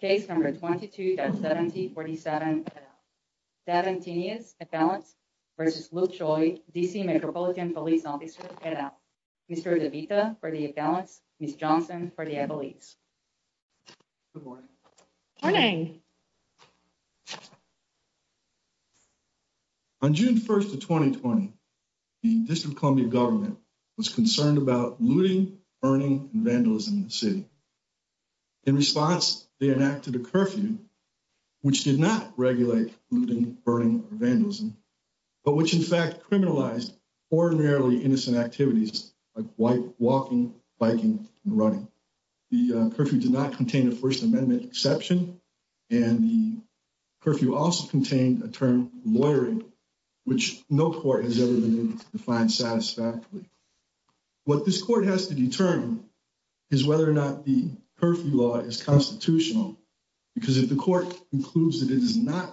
Case number 22-7047. Davon Tinius, at balance, versus Luke Choi, D.C. Metropolitan Police Officer, at out. Mr. DeVita, for the at balance. Ms. Johnson, for the at police. Good morning. Morning. On June 1st of 2020, the District of Columbia government In response, they enacted a curfew, which did not regulate looting, burning, or vandalism, but which, in fact, criminalized ordinarily innocent activities like walking, biking, and running. The curfew did not contain a First Amendment exception, and the curfew also contained a term lawyering, which no court has ever been able to define satisfactorily. What this court has to determine is whether or not the curfew law is constitutional, because if the court concludes that it is not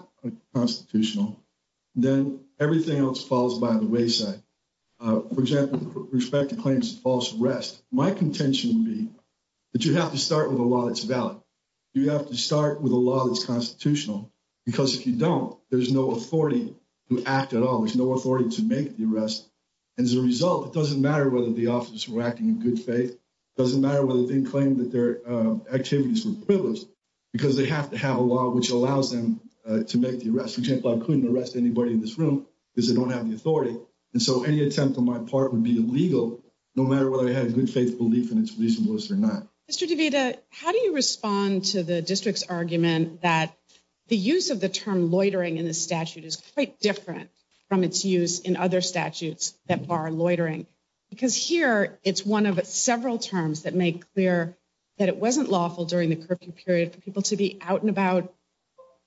constitutional, then everything else falls by the wayside. For example, respect to claims of false arrest. My contention would be that you have to start with a law that's valid. You have to start with a law that's constitutional, because if you don't, there's no authority to act at all. There's no authority to make the arrest. As a result, it doesn't matter whether the officers were acting in good faith, it doesn't matter whether they claim that their activities were privileged, because they have to have a law which allows them to make the arrest. For example, I couldn't arrest anybody in this room because they don't have the authority, and so any attempt on my part would be illegal no matter whether I had a good faith belief in its reasonableness or not. Mr. DeVita, how do you respond to the district's argument that the use of the term loitering in the statute is quite different from its use in other statutes that bar loitering? Because here, it's one of several terms that make clear that it wasn't lawful during the curfew period for people to be out and about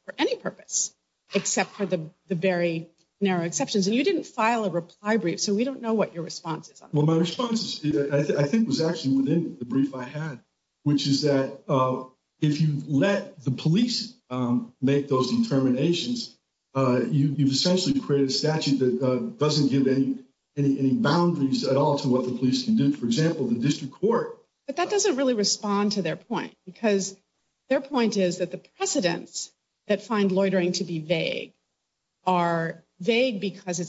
for any purpose, except for the very narrow exceptions. And you didn't file a reply brief, so we don't know what your response is on that. Well, my response, I think, was actually within the brief I had, which is that if you let the police make those determinations, you've essentially created a statute that doesn't give any boundaries at all to what the police can do. For example, the district court— But that doesn't really respond to their point, because their point is that the precedents that find loitering to be vague are vague because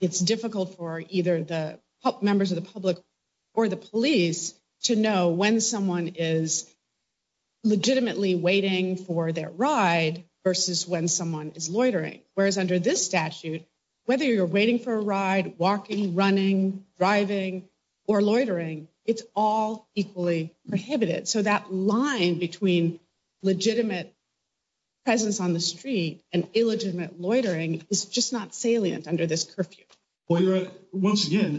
it's difficult for either the members of the public or the police to know when someone is legitimately waiting for their ride versus when someone is loitering. Whereas under this statute, whether you're waiting for a ride, walking, running, driving, or loitering, it's all equally prohibited. So that line between legitimate presence on the street and illegitimate loitering is just not salient under this curfew. Once again,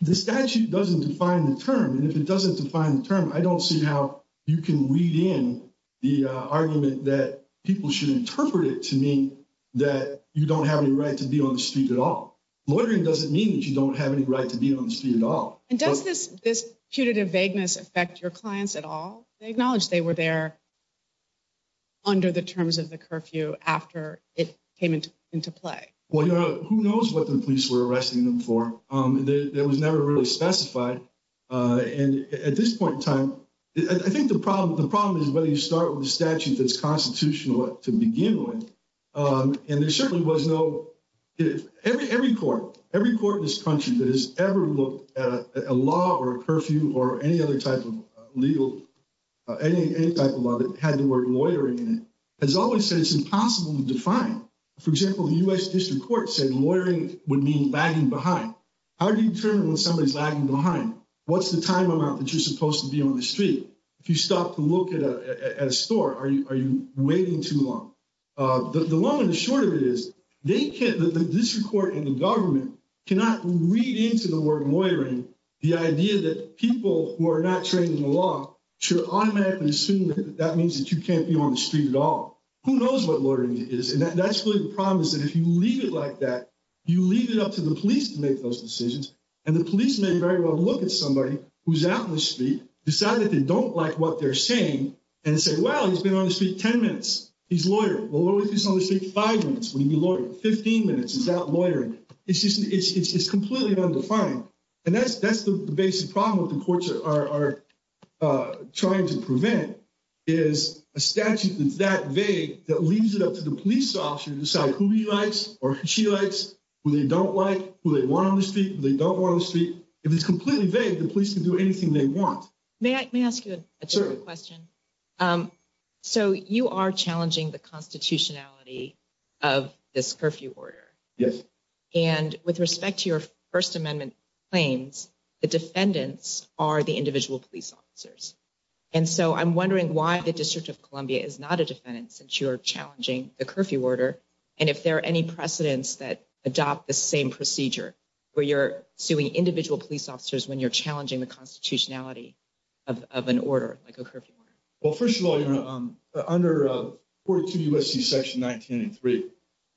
the statute doesn't define the term. And if it doesn't define the term, I don't see how you can weed in the argument that people should interpret it to mean that you don't have any right to be on the street at all. Loitering doesn't mean that you don't have any right to be on the street at all. And does this putative vagueness affect your clients at all? They acknowledged they were there under the terms of the curfew after it came into play. Well, who knows what the police were arresting them for? That was never really specified. And at this point in time, I think the problem is whether you start with a statute that's constitutional to begin with. And there certainly was no—every court in this country that has ever looked at a law or a curfew or any other type of legal—any type of law that had the word loitering in it has always said it's impossible to define. For example, the U.S. District Court said loitering would mean lagging behind. How do you determine when somebody's lagging behind? What's the time amount that you're supposed to be on the street? If you stop to look at a store, are you waiting too long? The long and the short of it is they can't—the district court and the government cannot read into the word loitering the idea that people who are not trained in the law should automatically assume that that means that you can't be on the street at all. Who knows what loitering is? That's really the problem, is that if you leave it like that, you leave it up to the police to make those decisions, and the police may very well look at somebody who's out on the street, decide that they don't like what they're saying, and say, well, he's been on the street 10 minutes. He's loitering. Well, what if he's on the street five minutes? Would he be loitering 15 minutes? Is that loitering? It's just—it's completely undefined. And that's the basic problem that the courts are trying to prevent, is a statute that's vague that leaves it up to the police officer to decide who he likes or who she likes, who they don't like, who they want on the street, who they don't want on the street. If it's completely vague, the police can do anything they want. May I ask you a question? So you are challenging the constitutionality of this curfew order. Yes. And with respect to your First Amendment claims, the defendants are the individual police officers. And so I'm wondering why the District of Columbia is not a defendant since you are challenging the curfew order, and if there are any precedents that adopt the same procedure where you're suing individual police officers when you're challenging the constitutionality of an order like a curfew order? Well, first of all, you know, under 42 U.S.C. Section 1983,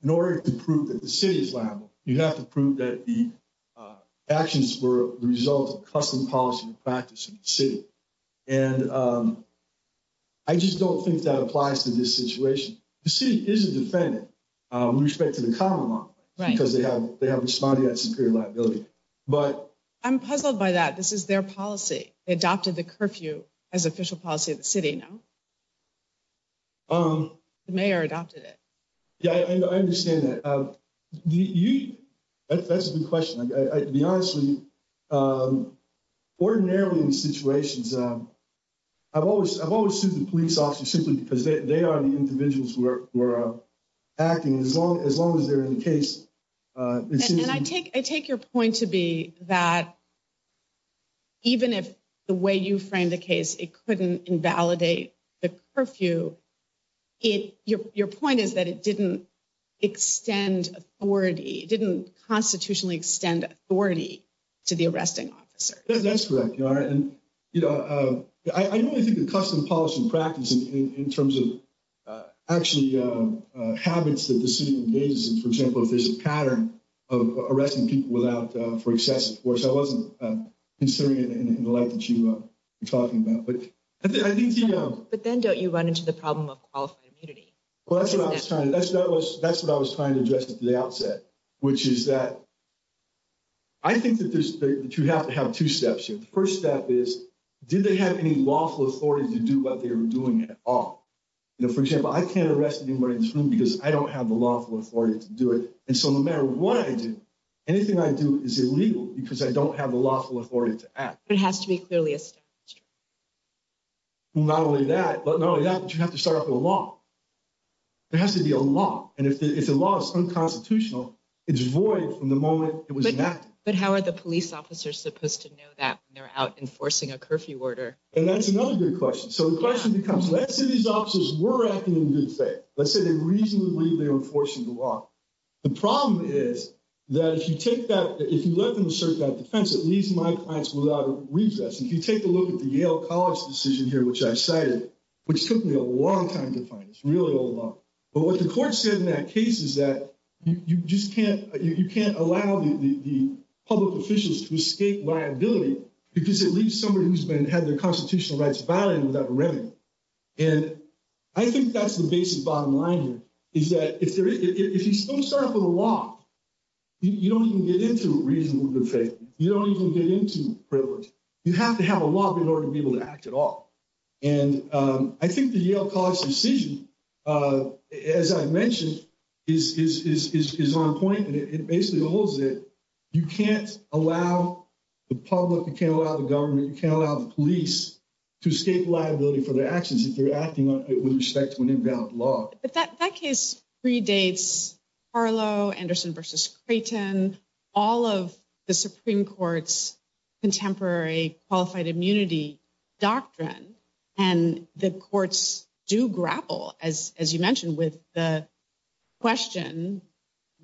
in order to prove that the city is liable, you have to prove that the actions were the result of custom policy and practice of the city. And I just don't think that applies to this situation. The city is a defendant with respect to the common law because they have responded to that superior liability. But— I'm puzzled by that. This is their policy. They adopted the curfew as official policy of the city, no? The mayor adopted it. Yeah, I understand that. That's a good question. To be honest with you, ordinarily in situations, I've always sued the police officers simply because they are the individuals who are acting as long as they're in the case. And I take your point to be that even if the way you framed the case, it couldn't invalidate the curfew, your point is that it didn't extend authority, it didn't constitutionally extend authority to the arresting officer. That's correct, Your Honor. And, you know, I don't think the custom policy and practice in terms of actually habits that the city engages in, for example, if there's a pattern of arresting people without—for excessive force, I wasn't considering it in the light that you were talking about. But then don't you run into the problem of qualified immunity? Well, that's what I was trying to address at the outset, which is that I think that you have to have two steps here. The first step is, did they have any lawful authority to do what they were doing at all? You know, for example, I can't arrest anybody in this room because I don't have the lawful authority to do it. And so no matter what I do, anything I do is illegal because I don't have the lawful authority to act. But it has to be clearly established. Well, not only that, but you have to start off with a law. There has to be a law. And if the law is unconstitutional, it's void from the moment it was enacted. But how are the police officers supposed to know that when they're out enforcing a curfew order? And that's another good question. So the question becomes, let's say these officers were acting in good faith. Let's say they reasonably believed they were enforcing the law. The problem is that if you take that—if you let them assert that defense, it leaves my clients without a recess. If you take a look at the Yale College decision here, which I cited, which took me a long time to find. It's really a long time. But what the court said in that case is that you just can't—you can't allow the public officials to escape liability because it leaves somebody who's been—had their constitutional rights violated without revenue. And I think that's the basic bottom line here, is that if there is—if you don't start off with a law, you don't even get into reasonable good faith. You don't even get into privilege. You have to have a law in order to be able to act at all. And I think the Yale College decision, as I mentioned, is on point. And it basically holds that you can't allow the public, you can't allow the government, you can't allow the police to escape liability for their actions if they're acting with respect to an invalid law. But that case predates Harlow, Anderson v. Creighton, all of the Supreme Court's contemporary qualified immunity doctrine. And the courts do grapple, as you mentioned, with the question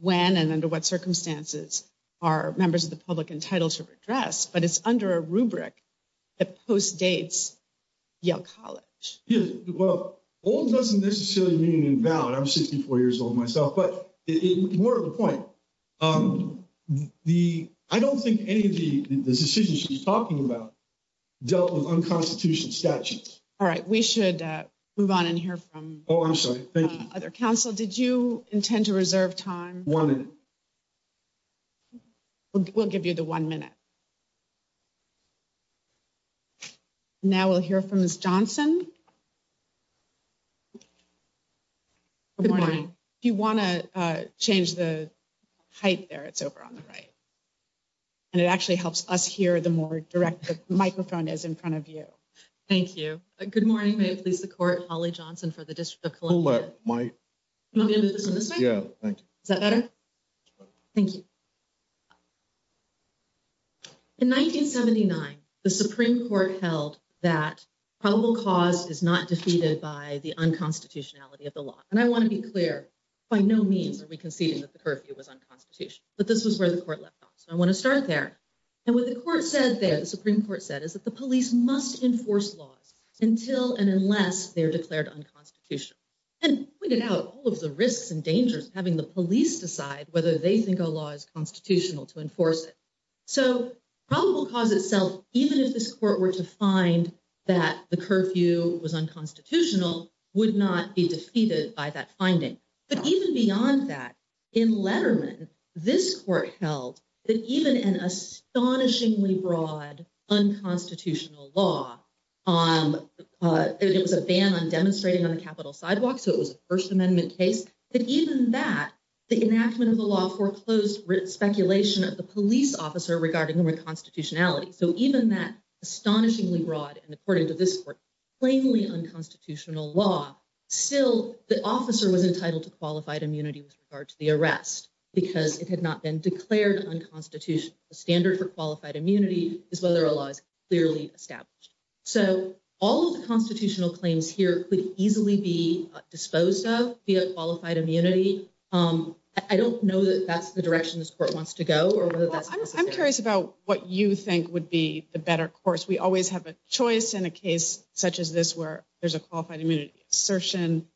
when and under what circumstances are members of the public entitled to redress. But it's under a rubric that postdates Yale College. Well, old doesn't necessarily mean invalid. I'm 64 years old myself. But more to the point, the—I don't think any of the decisions she's talking about dealt with unconstitutional statutes. All right. We should move on and hear from— Oh, I'm sorry. Thank you. —other counsel. Did you intend to reserve time? One minute. We'll give you the one minute. Now we'll hear from Ms. Johnson. Good morning. If you want to change the height there, it's over on the right. And it actually helps us hear the more direct the microphone is in front of you. Thank you. Good morning. May it please the Court. Holly Johnson for the District of Columbia. Hold up my— You want me to move this one this way? Yeah, thank you. Is that better? Thank you. In 1979, the Supreme Court held that probable cause is not defeated by the unconstitutionality of the law. And I want to be clear. By no means are we conceding that the curfew was unconstitutional. But this was where the Court left off. So I want to start there. And what the Court said there, the Supreme Court said, is that the police must enforce laws until and unless they are declared unconstitutional. And pointed out all of the risks and dangers of having the police decide whether they think a law is constitutional to enforce it. So probable cause itself, even if this Court were to find that the curfew was unconstitutional, would not be defeated by that finding. But even beyond that, in Letterman, this Court held that even an astonishingly broad unconstitutional law—it was a ban on demonstrating on the Capitol sidewalk, so it was a First Amendment case—that even that, the enactment of the law foreclosed speculation of the police officer regarding the reconstitutionality. So even that astonishingly broad and, according to this Court, plainly unconstitutional law, still the officer was entitled to qualified immunity with regard to the arrest, because it had not been declared unconstitutional. The standard for qualified immunity is whether a law is clearly established. So all of the constitutional claims here could easily be disposed of via qualified immunity. I don't know that that's the direction this Court wants to go. I'm curious about what you think would be the better course. We always have a choice in a case such as this where there's a qualified immunity. Assertion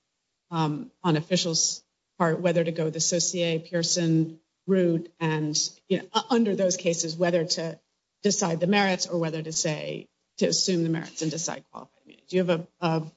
on officials' part whether to go the Saussure-Pearson route, and under those cases whether to decide the merits or whether to assume the merits and decide qualified immunity. Do you have an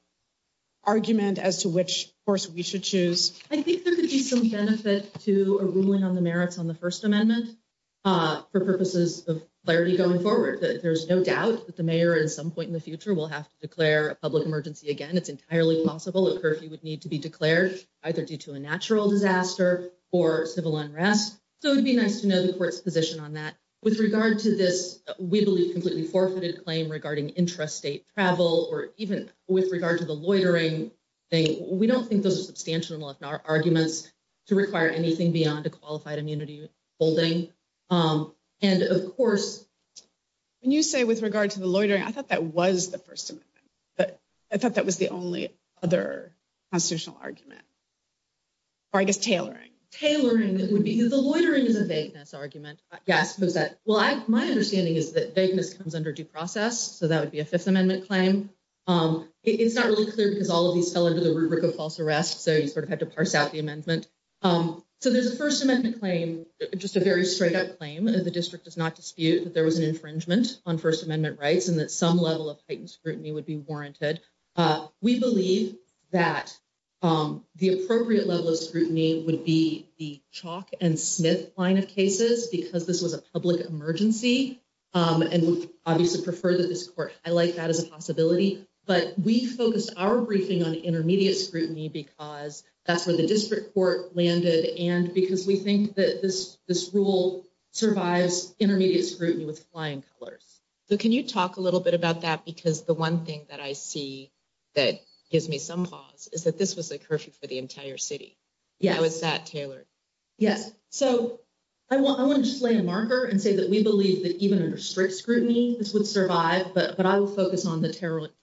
argument as to which course we should choose? I think there could be some benefit to a ruling on the merits on the First Amendment for purposes of clarity going forward. There's no doubt that the mayor at some point in the future will have to declare a public emergency again. It's entirely possible a curfew would need to be declared either due to a natural disaster or civil unrest. So it would be nice to know the Court's position on that. With regard to this, we believe, completely forfeited claim regarding intrastate travel or even with regard to the loitering thing. We don't think those are substantial enough arguments to require anything beyond a qualified immunity holding. And of course, when you say with regard to the loitering, I thought that was the First Amendment. But I thought that was the only other constitutional argument. Or I guess tailoring. Tailoring, it would be the loitering is a vagueness argument. Yeah, I suppose that. Well, my understanding is that vagueness comes under due process. So that would be a Fifth Amendment claim. It's not really clear because all of these fell under the rubric of false arrest. So you sort of had to parse out the amendment. So there's a First Amendment claim, just a very straight up claim. The district does not dispute that there was an infringement on First Amendment rights and that some level of heightened scrutiny would be warranted. We believe that the appropriate level of scrutiny would be the Chalk and Smith line of cases because this was a public emergency and we obviously prefer that this court highlight that as a possibility. But we focused our briefing on intermediate scrutiny because that's where the district court landed and because we think that this rule survives intermediate scrutiny with flying colors. So can you talk a little bit about that? Because the one thing that I see that gives me some pause is that this was a curfew for the entire city. Yes. How is that tailored? Yes. So I want to just lay a marker and say that we believe that even under strict scrutiny, this would survive. But I will focus on the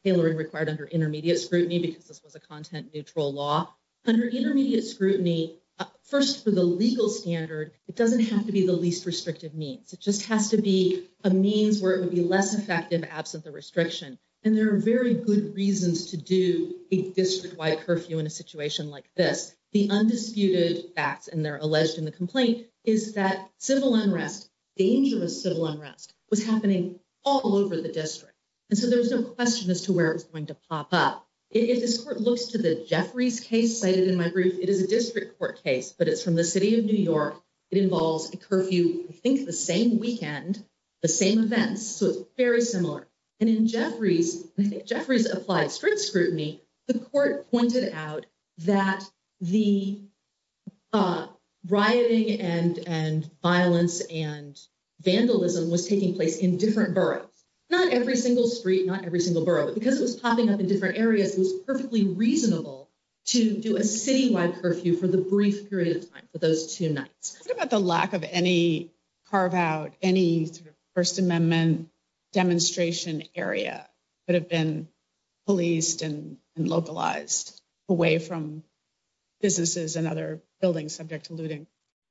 tailoring required under intermediate scrutiny because this was a content neutral law. Under intermediate scrutiny, first for the legal standard, it doesn't have to be the least restrictive means. It just has to be a means where it would be less effective absent the restriction. And there are very good reasons to do a district wide curfew in a situation like this. The undisputed facts, and they're alleged in the complaint, is that civil unrest, dangerous civil unrest was happening all over the district. And so there was no question as to where it was going to pop up. If this court looks to the Jeffries case cited in my brief, it is a district court case, but it's from the city of New York. It involves a curfew, I think the same weekend, the same events. So it's very similar. And in Jeffries, Jeffries applied strict scrutiny. The court pointed out that the rioting and violence and vandalism was taking place in different boroughs. Not every single street, not every single borough, but because it was popping up in different areas, it was perfectly reasonable to do a citywide curfew for the brief period of time for those two nights. What about the lack of any carve out, any First Amendment demonstration area that have been policed and localized away from businesses and other buildings subject to looting?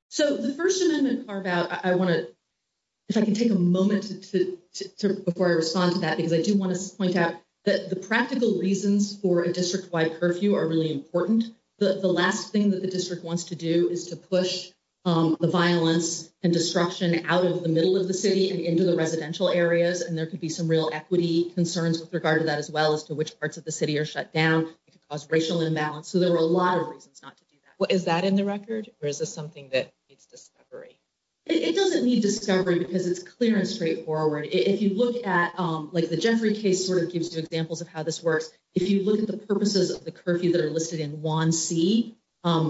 So the First Amendment carve out, I want to, if I can take a moment before I respond to that, because I do want to point out that the practical reasons for a district wide curfew are really important. The last thing that the district wants to do is to push the violence and destruction out of the middle of the city and into the residential areas. And there could be some real equity concerns with regard to that as well as to which parts of the city are shut down. It could cause racial imbalance. So there were a lot of reasons not to do that. What is that in the record? Or is this something that needs discovery? It doesn't need discovery because it's clear and straightforward. If you look at like the Jeffrey case sort of gives you examples of how this works. If you look at the purposes of the curfew that are listed in 1C,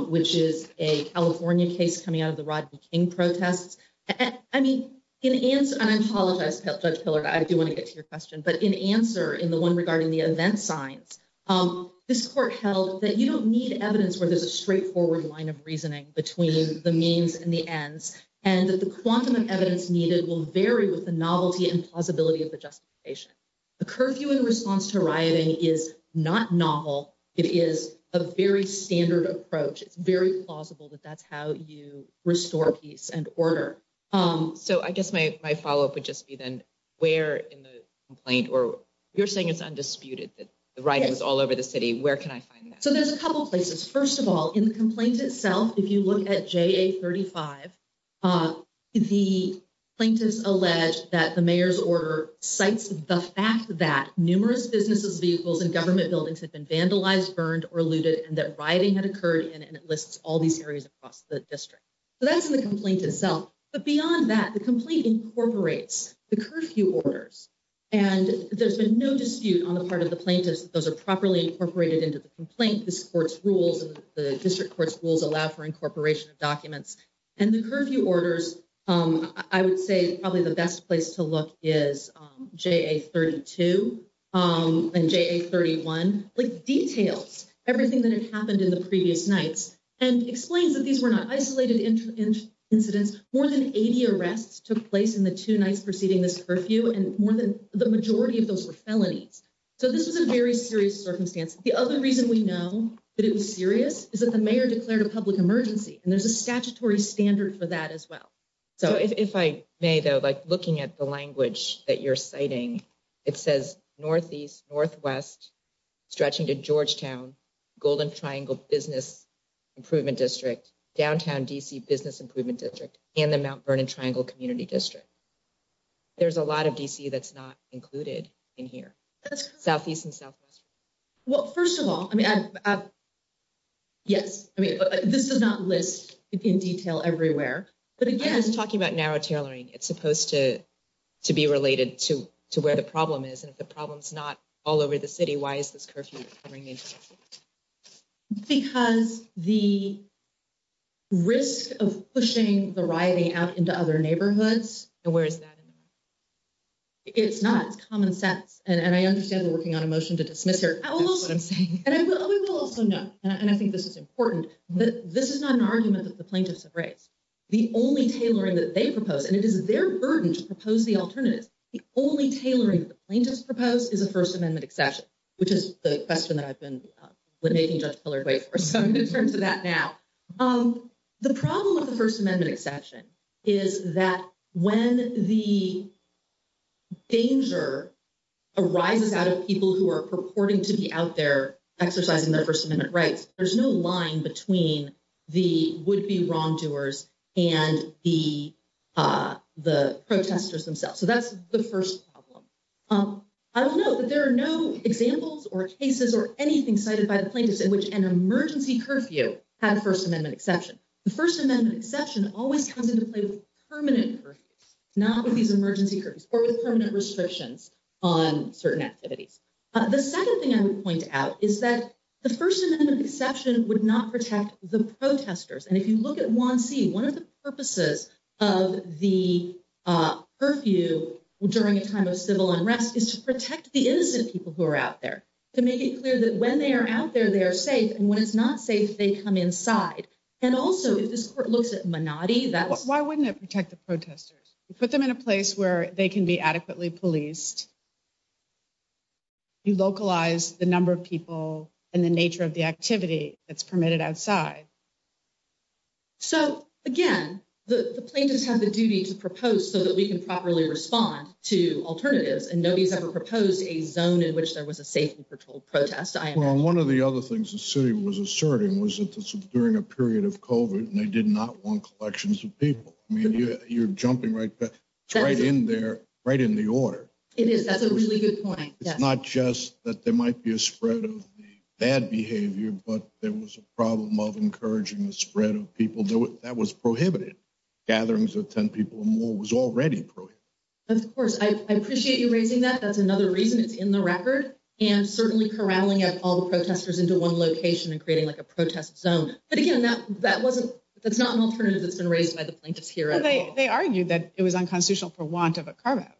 which is a California case coming out of the Rodney King protests. I mean, in answer, and I apologize, Judge Pillard, I do want to get to your question. But in answer, in the one regarding the event signs, this court held that you don't need evidence where there's a straightforward line of reasoning between the means and the ends and that the quantum of evidence needed will vary with the novelty and plausibility of the justification. The curfew in response to rioting is not novel. It is a very standard approach. It's very plausible that that's how you restore peace and order. So I guess my follow up would just be then where in the complaint or you're saying it's undisputed that the rioting is all over the city. Where can I find that? So there's a couple of places. First of all, in the complaint itself, if you look at JA35, the plaintiffs allege that the mayor's order cites the fact that numerous businesses, vehicles and government buildings have been vandalized, burned or looted and that rioting had occurred. And it lists all these areas across the district. So that's the complaint itself. But beyond that, the complaint incorporates the curfew orders, and there's been no dispute on the part of the plaintiffs that those are properly incorporated into the complaint. This court's rules and the district court's rules allow for incorporation of documents and the curfew orders. I would say probably the best place to look is JA32 and JA31, like details everything that had happened in the previous nights and explains that these were not isolated incidents. More than 80 arrests took place in the two nights preceding this curfew and more than the majority of those were felonies. So this is a very serious circumstance. The other reason we know that it was serious is that the mayor declared a public emergency and there's a statutory standard for that as well. So if I may, though, like looking at the language that you're citing, it says northeast, northwest, stretching to Georgetown, Golden Triangle Business Improvement District, downtown DC Business Improvement District and the Mount Vernon Triangle Community District. There's a lot of DC that's not included in here, southeast and southwest. Well, first of all, I mean, yes. I mean, this does not list in detail everywhere. But again, I was talking about narrow tailoring. It's supposed to be related to where the problem is. And if the problem's not all over the city, why is this curfew? Because the risk of pushing the rioting out into other neighborhoods. And where is that? It's not. It's common sense. And I understand we're working on a motion to dismiss her. That's what I'm saying. And we will also know, and I think this is important, that this is not an argument that the plaintiffs have raised. The only tailoring that they propose, and it is their burden to propose the alternatives, the only tailoring that the plaintiffs propose is a First Amendment exception, which is the question that I've been making Judge Pillard wait for. So I'm going to turn to that now. The problem with the First Amendment exception is that when the danger arises out of people who are purporting to be out there exercising their First Amendment rights, there's no line between the would-be wrongdoers and the protesters themselves. So that's the first problem. I will note that there are no examples or cases or anything cited by the plaintiffs in which an emergency curfew had a First Amendment exception. The First Amendment exception always comes into play with permanent curfews, not with these emergency curfews, or with permanent restrictions on certain activities. The second thing I would point out is that the First Amendment exception would not protect the protesters. And if you look at 1C, one of the purposes of the curfew during a time of civil unrest is to protect the innocent people who are out there, to make it clear that when they are out there, they are safe. And when it's not safe, they come inside. And also, if this court looks at Menotti, that's- put them in a place where they can be adequately policed. You localize the number of people and the nature of the activity that's permitted outside. So, again, the plaintiffs have the duty to propose so that we can properly respond to alternatives. And nobody's ever proposed a zone in which there was a safely patrolled protest. Well, one of the other things the city was asserting was that this was during a period of COVID, and they did not want collections of people. You're jumping right in there, right in the order. It is. That's a really good point. It's not just that there might be a spread of bad behavior, but there was a problem of encouraging the spread of people. That was prohibited. Gatherings of 10 people or more was already prohibited. Of course. I appreciate you raising that. That's another reason it's in the record. And certainly corralling up all the protesters into one location and creating like a protest zone. But again, that wasn't- They argued that it was unconstitutional for want of a carve-out.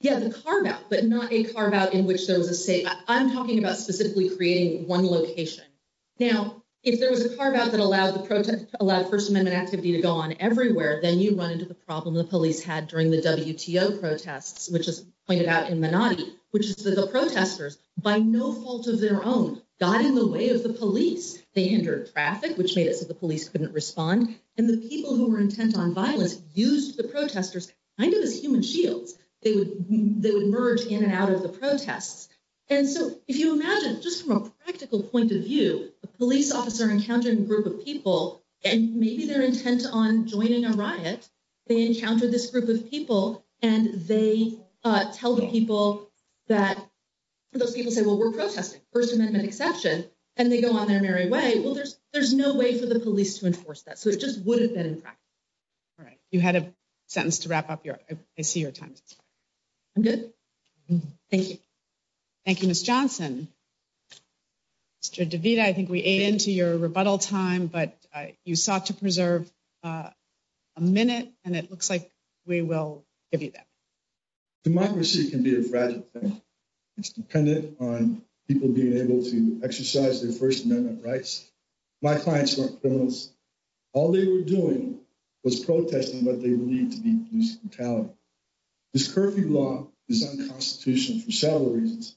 Yeah, the carve-out, but not a carve-out in which there was a safe. I'm talking about specifically creating one location. Now, if there was a carve-out that allowed the protest, allowed First Amendment activity to go on everywhere, then you run into the problem the police had during the WTO protests, which is pointed out in Menotti, which is that the protesters, by no fault of their own, got in the way of the police. They entered traffic, which made it so the police couldn't respond. And the people who were intent on violence used the protesters kind of as human shields. They would merge in and out of the protests. And so if you imagine, just from a practical point of view, a police officer encountering a group of people, and maybe their intent on joining a riot, they encounter this group of people, and they tell the people that- Those people say, well, we're protesting. First Amendment exception. And they go on their merry way. Well, there's no way for the police to enforce that. So it just wouldn't have been in practice. All right. You had a sentence to wrap up your- I see your time is up. I'm good. Thank you. Thank you, Ms. Johnson. Mr. DeVita, I think we ate into your rebuttal time, but you sought to preserve a minute, and it looks like we will give you that. Democracy can be a fragile thing. It's dependent on people being able to exercise their First Amendment rights. My clients weren't criminals. All they were doing was protesting what they believed to be police brutality. This curfew law is unconstitutional for several reasons.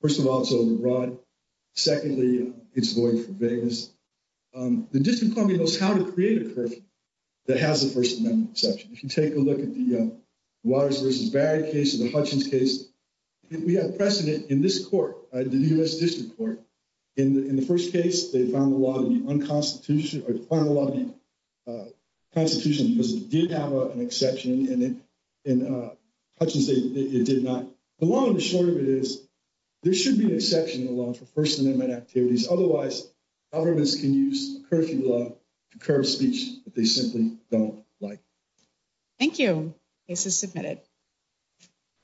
First of all, it's overbroad. Secondly, it's void for vagueness. The District of Columbia knows how to create a curfew that has a First Amendment exception. If you take a look at the Waters versus Barrett case, or the Hutchins case, we have precedent in this court, the U.S. District Court. In the first case, they found the law to be unconstitutional, or they found the law to be constitutional because it did have an exception, and in Hutchins, it did not. The long and the short of it is, there should be an exception in the law for First Amendment activities. Otherwise, governments can use a curfew law to curb speech that they simply don't like. Thank you. Case is submitted.